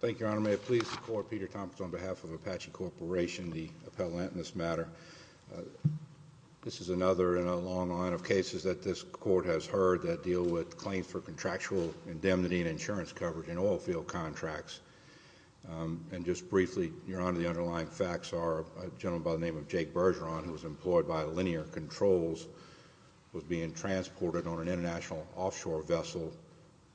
Thank you, Your Honor. May it please the Court, Peter Thompson on behalf of Apache Corporation, the appellant in this matter. This is another in a long line of cases that this Court has heard that deal with claims for contractual indemnity and insurance coverage in oilfield contracts. And just briefly, Your Honor, the underlying facts are a gentleman by the name of Jake Bergeron, who was employed by Linear Controls, was being transported on an international offshore vessel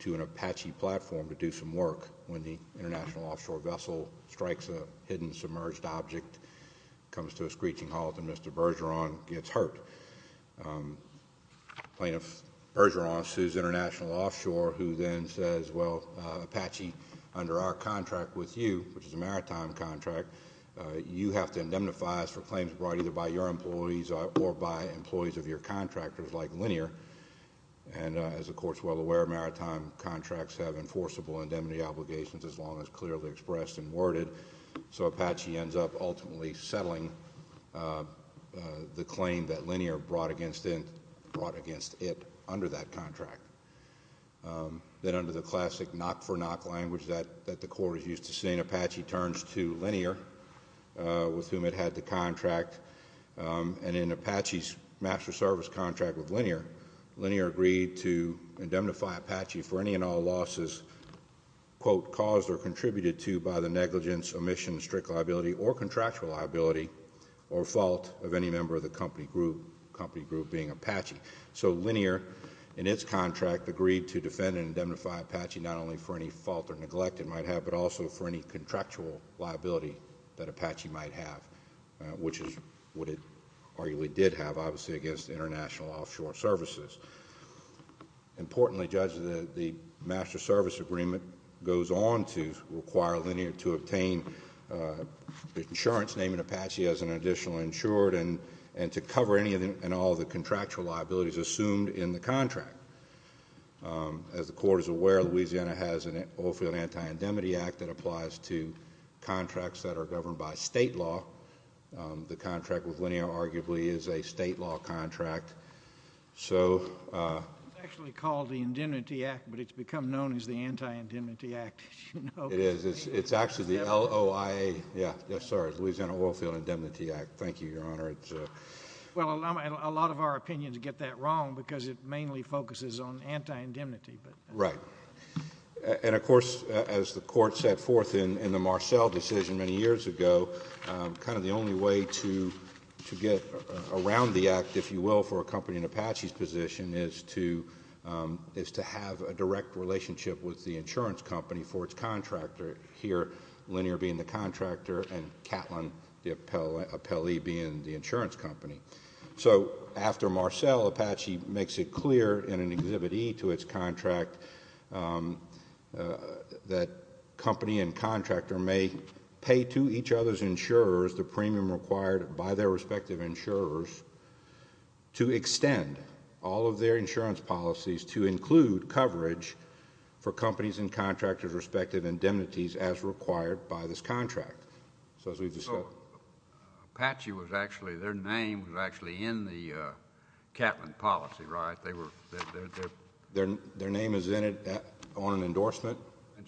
to an Apache platform to do some work when the international offshore vessel strikes a hidden submerged object, comes to a screeching halt, and Mr. Bergeron gets hurt. Plaintiff Bergeron sues International Offshore, who then says, well, Apache, under our contract with you, which is a maritime contract, you have to indemnify us for claims brought either by your employees or by employees of your contractors, like Linear. And as the Court is well aware, maritime contracts have enforceable indemnity obligations as long as clearly expressed and worded. So Apache ends up ultimately settling the claim that Linear brought against it under that contract. Then under the classic knock-for-knock language that the Court is used to saying, Apache turns to Linear, with whom it had the contract. And in Apache's master service contract with Linear, Linear agreed to indemnify Apache for any and all losses, quote, caused or contributed to by the negligence, omission, strict liability, or contractual liability, or fault of any member of the company group, company group being Apache. So Linear, in its contract, agreed to defend and indemnify Apache not only for any fault or neglect it might have, but also for any contractual liability that Apache might have, which is what it arguably did have, obviously, against international offshore services. Importantly, Judge, the master service agreement goes on to require Linear to obtain insurance, naming Apache as an additional insured, and to cover any and all the contractual liabilities assumed in the contract. As the Court is aware, Louisiana has an Oilfield Anti-Indemnity Act that applies to contracts that are governed by state law. The contract with Linear, arguably, is a state law contract. It's actually called the Indemnity Act, but it's become known as the Anti-Indemnity Act, as you know. It is. It's actually the L-O-I-A, yeah, sorry, Louisiana Oilfield Indemnity Act. Thank you, Your Honor. Well, a lot of our opinions get that wrong because it mainly focuses on anti-indemnity. Right. And of course, as the Court set forth in the Marcell decision many years ago, kind of the only way to get around the act, if you will, for a company in Apache's position is to have a direct relationship with the insurance company for its contractor here, Linear being the contractor and Catlin the appellee being the insurance company. So after Marcell, Apache makes it clear in an Exhibit E to its contract that company and contractor may pay to each other's insurers the premium required by their respective insurers to extend all of their insurance policies to include coverage for companies and contractors' respective indemnities as required by this Act. So Apache was actually, their name was actually in the Catlin policy, right? Their name is in it on an endorsement. In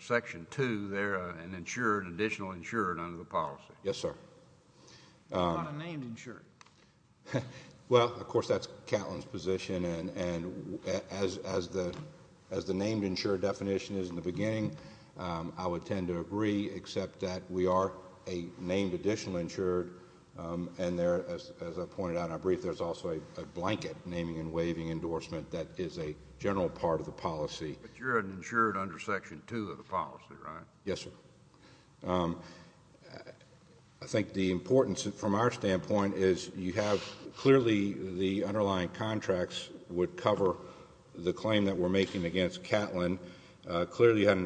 Section 2, they're an insured, additional insured under the policy. Yes, sir. How about a named insured? Well, of course, that's Catlin's position and as the named insured definition is in the beginning, I would tend to agree except that we are a named additional insured and as I pointed out in our brief, there's also a blanket naming and waiving endorsement that is a general part of the policy. But you're an insured under Section 2 of the policy, right? Yes, sir. I think the importance from our standpoint is you have clearly the underlying contracts would cover the claim that we're in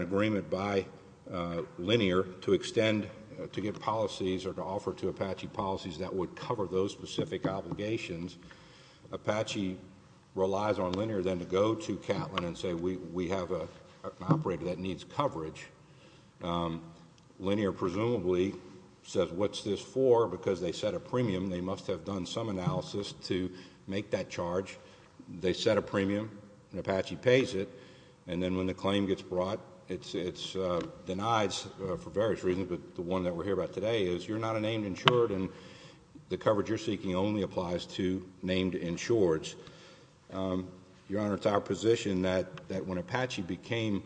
agreement by Linear to extend, to give policies or to offer to Apache policies that would cover those specific obligations. Apache relies on Linear then to go to Catlin and say we have an operator that needs coverage. Linear presumably says what's this for because they set a premium, they must have done some analysis to make that charge. They set a premium and Apache pays it and then when the claim gets brought, it's denied for various reasons but the one that we're here about today is you're not a named insured and the coverage you're seeking only applies to named insureds. Your Honor, it's our position that when Apache became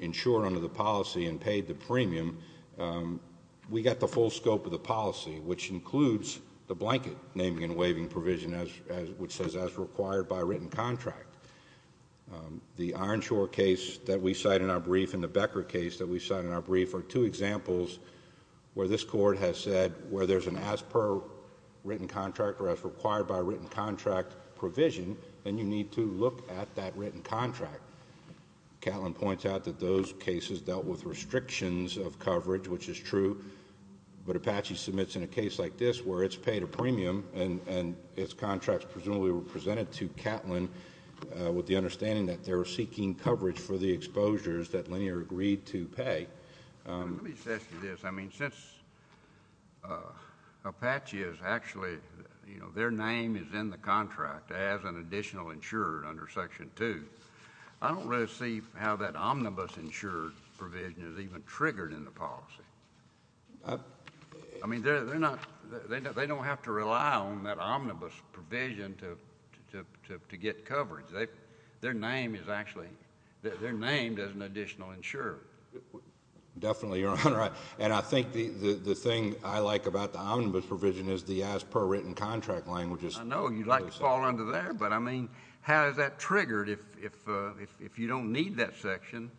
insured under the policy and paid the premium, we got the full scope of the policy which includes the blanket naming and waiving provision which says as required by written contract. The Ironshore case that we cite in our brief and the Becker case that we cite in our brief are two examples where this court has said where there's an as per written contract or as required by written contract provision and you need to look at that written contract. Catlin points out that those cases dealt with restrictions of coverage which is true but Apache submits in a case like this where it's paid a premium and its contracts presumably were presented to Catlin with the understanding that they were seeking coverage for the exposures that Linear agreed to pay. Let me ask you this. I mean since Apache is actually, you know, their name is in the contract as an additional insured under Section 2, I don't really see how that omnibus insured provision is even triggered in the policy. I mean they're not, they don't have to rely on that omnibus provision to get coverage. Their name is actually, their name does an additional insure. Definitely Your Honor and I think the thing I like about the omnibus provision is the as per written contract language is. I know you'd like to fall under there but I mean how is that triggered if you don't need that section,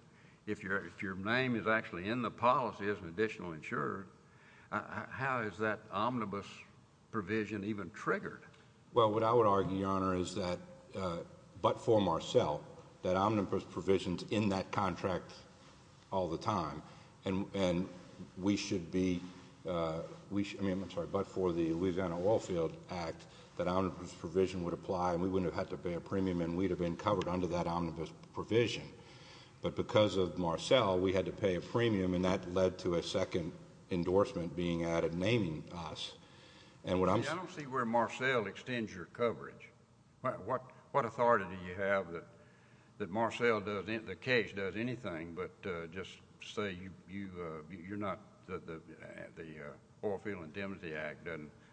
if your name is actually in the policy as an additional insured, how is that omnibus provision even triggered? Well what I would argue Your Honor is that, but for Marcell, that omnibus provision is in that contract all the time and we should be, I'm sorry, but for the Louisiana Oil Field Act that omnibus provision would apply and we wouldn't have had to pay a premium and that led to a second endorsement being added naming us and what I'm saying. I don't see where Marcell extends your coverage. What authority do you have that Marcell does, the case does anything but just say you're not, the Oil Field Indemnity Act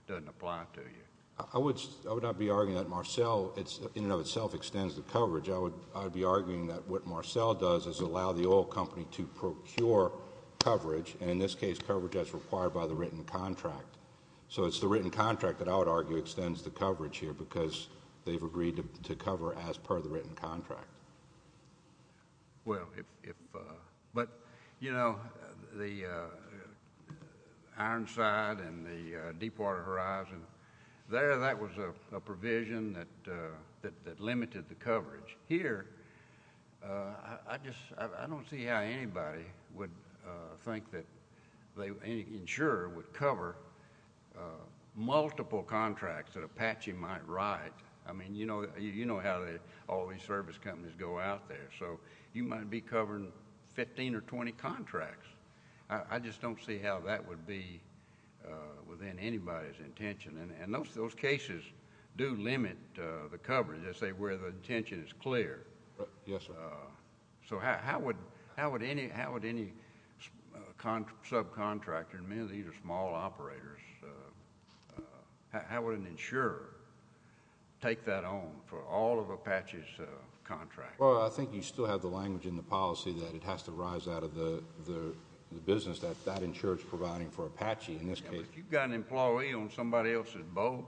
doesn't apply to you? I would not be arguing that Marcell in and of itself extends the coverage. I would be arguing that what Marcell does is allow the oil company to procure coverage and in this case coverage as required by the written contract. So it's the written contract that I would argue extends the coverage here because they've agreed to cover as per the written contract. Well if, but you know the Ironside and the Deepwater Horizon, there that was a provision that limited the coverage. Here I just, I don't see how anybody would think that they, any insurer would cover multiple contracts that Apache might write. I mean you know how all these service companies go out there so you might be covering 15 or 20 contracts. I just don't see how that would be within anybody's intention. And those cases do limit the coverage where the intention is clear. So how would any subcontractor, I mean these are small operators, how would an insurer take that on for all of Apache's contracts? Well I think you still have the language in the policy that it has to rise out of the business that that insurer is providing for Apache in this case. If you've got an employee on somebody else's boat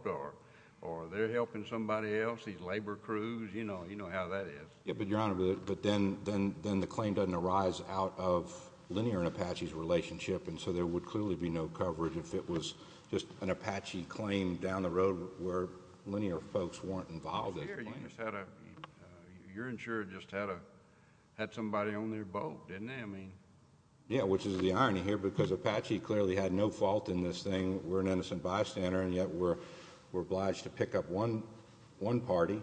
or they're helping somebody else, these labor crews, you know how that is. Yeah but Your Honor, but then the claim doesn't arise out of linear and Apache's relationship and so there would clearly be no coverage if it was just an Apache claim down the road where linear folks weren't involved in the claim. Well here you just had a, your insurer just had somebody on their boat, didn't they, I mean. Yeah, which is the irony here because Apache clearly had no fault in this thing. We're an innocent bystander and yet we're obliged to pick up one party.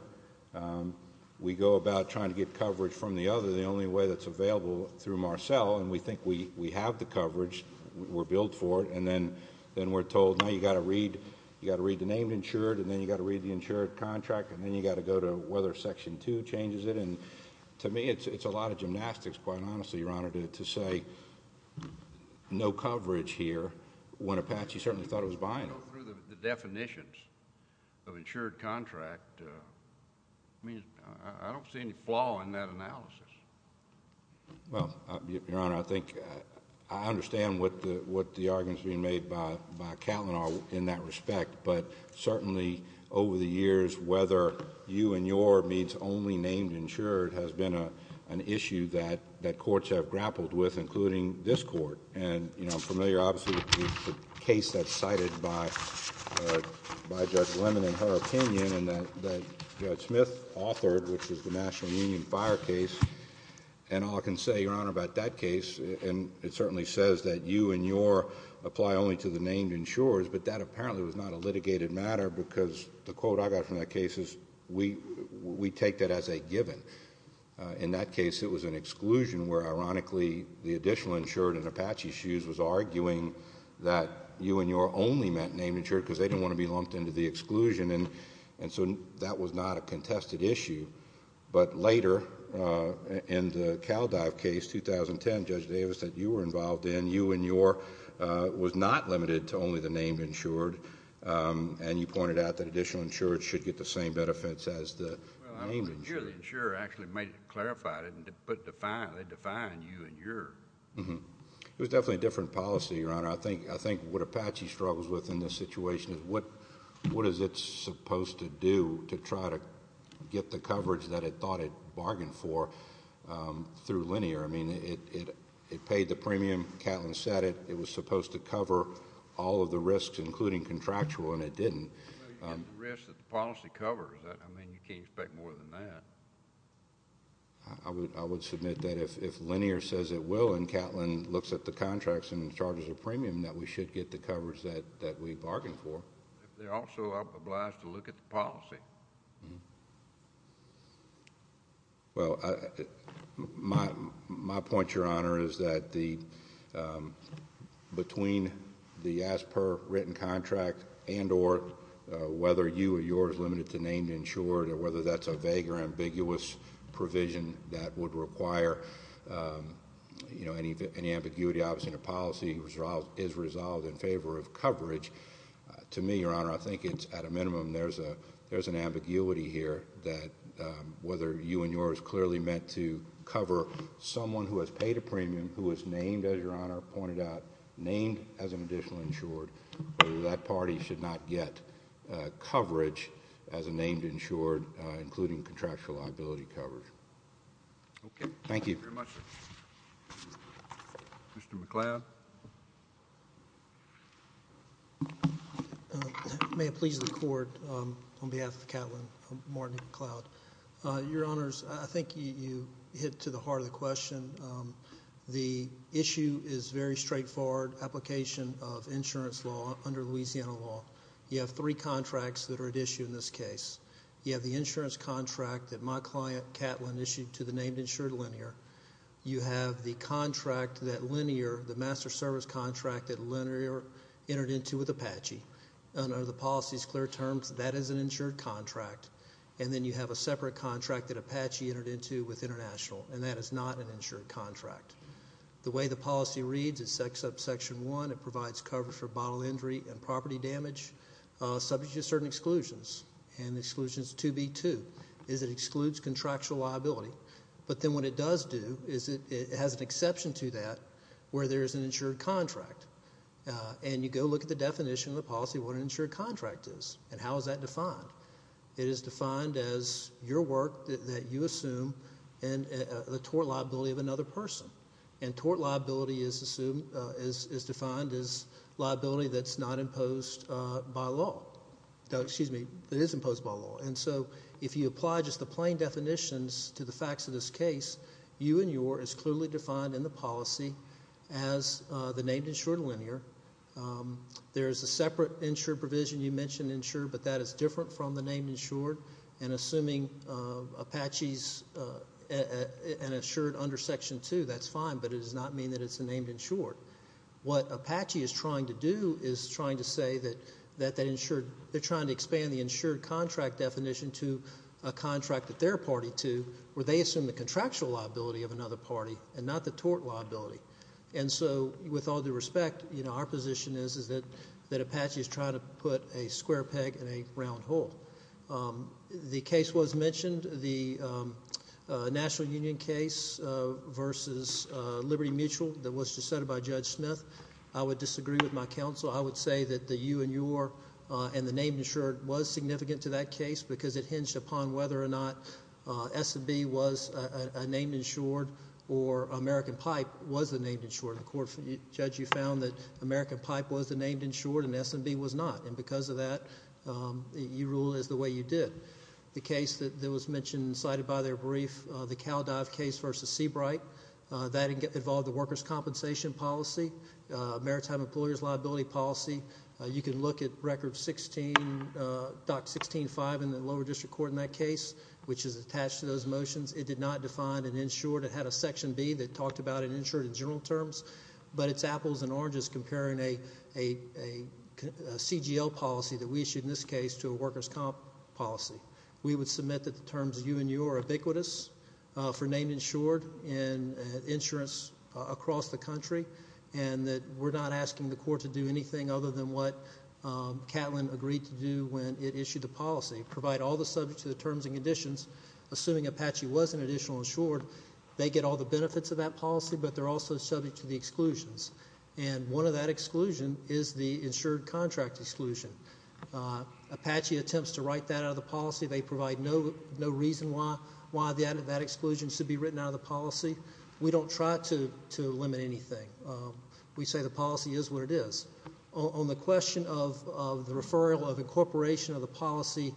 We go about trying to get coverage from the other, the only way that's available through Marcell and we think we have the coverage, we're billed for it, and then we're told now you've got to read the name insured and then you've got to read the insured contract and then you've got to go to whether Section 2 changes it and to me it's a lot of gymnastics quite honestly, Your Honor, to say no coverage here when Apache certainly thought it was buying it. When you go through the definitions of insured contract, I mean I don't see any flaw in that analysis. Well, Your Honor, I think, I understand what the arguments being made by Catlin are in that respect but certainly over the years whether you and your means only named insured has been an issue that courts have grappled with including this court and I'm familiar obviously with the case that's cited by Judge Lemon in her opinion and that Judge Smith authored which is the National Union Fire case and all I can say, Your Honor, about that case and it certainly says that you and your apply only to the named insured but that apparently was not a litigated matter because the quote I got from that case is we take that as a given. In that case it was an exclusion where ironically the additional insured in Apache's shoes was arguing that you and your only meant named insured because they didn't want to be lumped into the exclusion and so that was not a contested issue but later in the CalDive case, 2010, Judge Davis said you were involved in, you and your was not limited to only the named insured and you pointed out that additional insured should get the same benefits as the named insured. The insured actually made it, clarified it, but defined, they defined you and your. It was definitely a different policy, Your Honor. I think what Apache struggles with in this situation is what is it supposed to do to try to get the coverage that it thought it bargained for through linear, I mean it paid the premium, Catlin said it, it was supposed to cover all of the risks including contractual and it didn't. Well you get the risks that the policy covers, I mean you can't expect more than that. I would submit that if linear says it will and Catlin looks at the contracts and charges a premium that we should get the coverage that we bargained for. If they're also obliged to look at the policy. Well, my point, Your Honor, is that between the as per written contract and or whether you or your is limited to named insured or whether that's a vague or ambiguous provision that would require any ambiguity, obviously the policy is resolved in favor of coverage. To me, Your Honor, I think it's at a minimum there's an ambiguity here that whether you and your is clearly meant to cover someone who has paid a premium, who is named as Your Honor pointed out, named as an additional insured, that party should not get coverage as a named insured including contractual liability coverage. Thank you. Thank you very much. Mr. McCloud. May it please the Court, on behalf of Catlin Martin McCloud. Your Honors, I think you hit to the heart of the question. The issue is very straightforward application of insurance law under Louisiana law. You have three contracts that are at issue in this case. You have the insurance contract that my client, Catlin, issued to the named insured linear. You have the contract that linear, the master service contract that linear entered into with Apache. Under the policy's clear terms, that is an insured contract and then you have a separate contract that Apache entered into with international and that is not an insured contract. The way the policy reads is section one, it provides coverage for bodily injury and property damage subject to certain exclusions and the exclusion is 2B2, is it excludes contractual liability but then what it does do is it has an exception to that where there is an insured contract and you go look at the definition of the policy of what an insured contract is and how is that defined. It is defined as your work that you assume and the tort liability of another person and the tort liability is defined as liability that is not imposed by law, excuse me, that is imposed by law. And so if you apply just the plain definitions to the facts of this case, you and your is clearly defined in the policy as the named insured linear. There is a separate insured provision you mentioned insured but that is different from the named insured and assuming Apache is an insured under section two, that is fine but it does not mean that it is a named insured. What Apache is trying to do is trying to say that they are trying to expand the insured contract definition to a contract that they are party to where they assume the contractual liability of another party and not the tort liability. And so with all due respect, our position is that Apache is trying to put a square peg in a round hole. The case was mentioned, the National Union case versus Liberty Mutual that was decided by Judge Smith. I would disagree with my counsel. I would say that the you and your and the named insured was significant to that case because it hinged upon whether or not S&B was a named insured or American Pipe was a named insured. The court, Judge, you found that American Pipe was a named insured and S&B was not and because of that, you rule as the way you did. The case that was mentioned and cited by their brief, the Cal Dive case versus Seabright, that involved the workers' compensation policy, maritime employers' liability policy. You can look at record 16.16.5 in the lower district court in that case, which is attached to those motions. It did not define an insured. It had a section B that talked about an insured in general terms, but it is apples and oranges comparing a CGL policy that we issued in this case to a workers' comp policy. We would submit that the terms you and your are ubiquitous for named insured and insurance across the country and that we're not asking the court to do anything other than what Catlin agreed to do when it issued the policy. Provide all the subject to the terms and conditions, assuming Apache was an additional insured, they get all the benefits of that policy, but they're also subject to the exclusions. And one of that exclusion is the insured contract exclusion. Apache attempts to write that out of the policy. They provide no reason why that exclusion should be written out of the policy. We don't try to limit anything. We say the policy is what it is. On the question of the referral of incorporation of the policy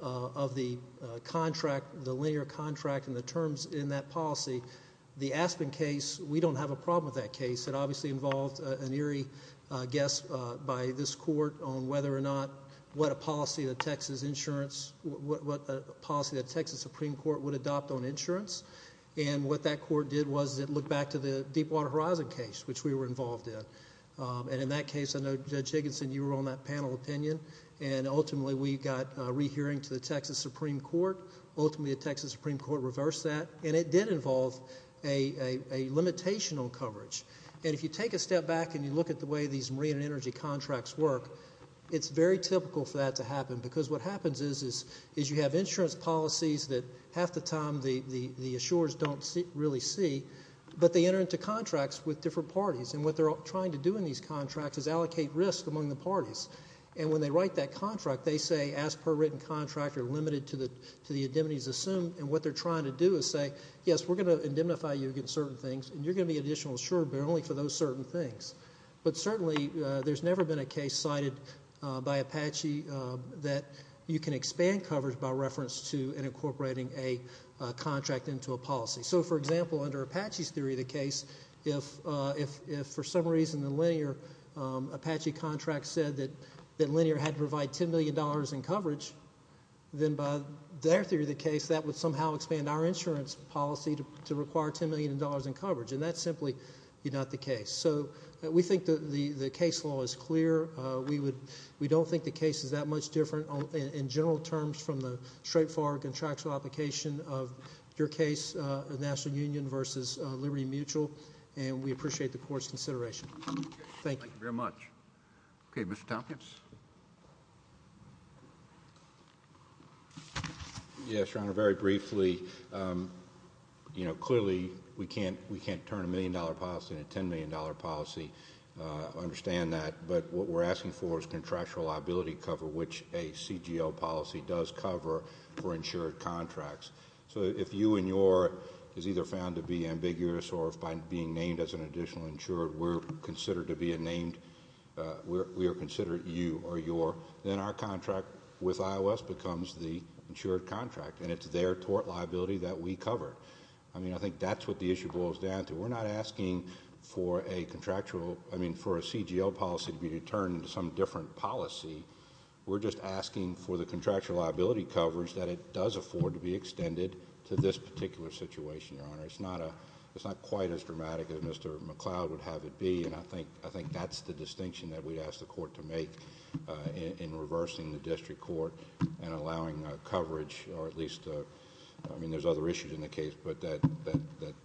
of the contract, the linear contract and the terms in that policy, the Aspen case, we don't have a problem with that case. It obviously involved an eerie guess by this court on whether or not what a policy of the Texas insurance, what policy the Texas Supreme Court would adopt on insurance. And what that court did was it looked back to the Deepwater Horizon case, which we were involved in. And in that case, I know Judge Higginson, you were on that panel opinion. And ultimately, we got a rehearing to the Texas Supreme Court. Ultimately, the Texas Supreme Court reversed that. And it did involve a limitation on coverage. And if you take a step back and you look at the way these marine and energy contracts work, it's very typical for that to happen. Because what happens is you have insurance policies that half the time the assurers don't really see. But they enter into contracts with different parties. And what they're trying to do in these contracts is allocate risk among the parties. And when they write that contract, they say, as per written contract, you're limited to the indemnities assumed. And what they're trying to do is say, yes, we're going to indemnify you against certain things. And you're going to be an additional insurer, but only for those certain things. But certainly, there's never been a case cited by Apache that you can expand coverage by reference to incorporating a contract into a policy. So for example, under Apache's theory of the case, if for some reason the linear Apache contract said that linear had to provide $10 million in coverage, then by their theory of the case, that would somehow expand our insurance policy to require $10 million in coverage. And that's simply not the case. So we think the case law is clear. We don't think the case is that much different in general terms from the straightforward contractual application of your case, the National Union versus Liberty Mutual. And we appreciate the court's consideration. Thank you. Thank you very much. OK. Mr. Tompkins? Yes. Yes, Your Honor. Very briefly, you know, clearly we can't turn a $1 million policy into a $10 million policy. Understand that. But what we're asking for is contractual liability cover, which a CGL policy does cover for insured contracts. So if you and your is either found to be ambiguous, or if by being named as an additional insured, we're considered to be a named, we are considered you or your, then our contract with iOS becomes the insured contract. And it's their tort liability that we cover. I mean, I think that's what the issue boils down to. We're not asking for a contractual, I mean, for a CGL policy to be turned into some different policy. We're just asking for the contractual liability coverage that it does afford to be extended to this particular situation, Your Honor. It's not quite as dramatic as Mr. McCloud would have it be. And I think that's the distinction that we'd ask the court to make in reversing the district court and allowing coverage, or at least, I mean, there's other issues in the case, but that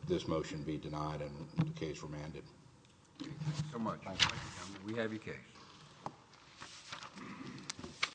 this motion be denied and the case remanded. Thank you so much. Thank you, Mr. Chairman. We have your case.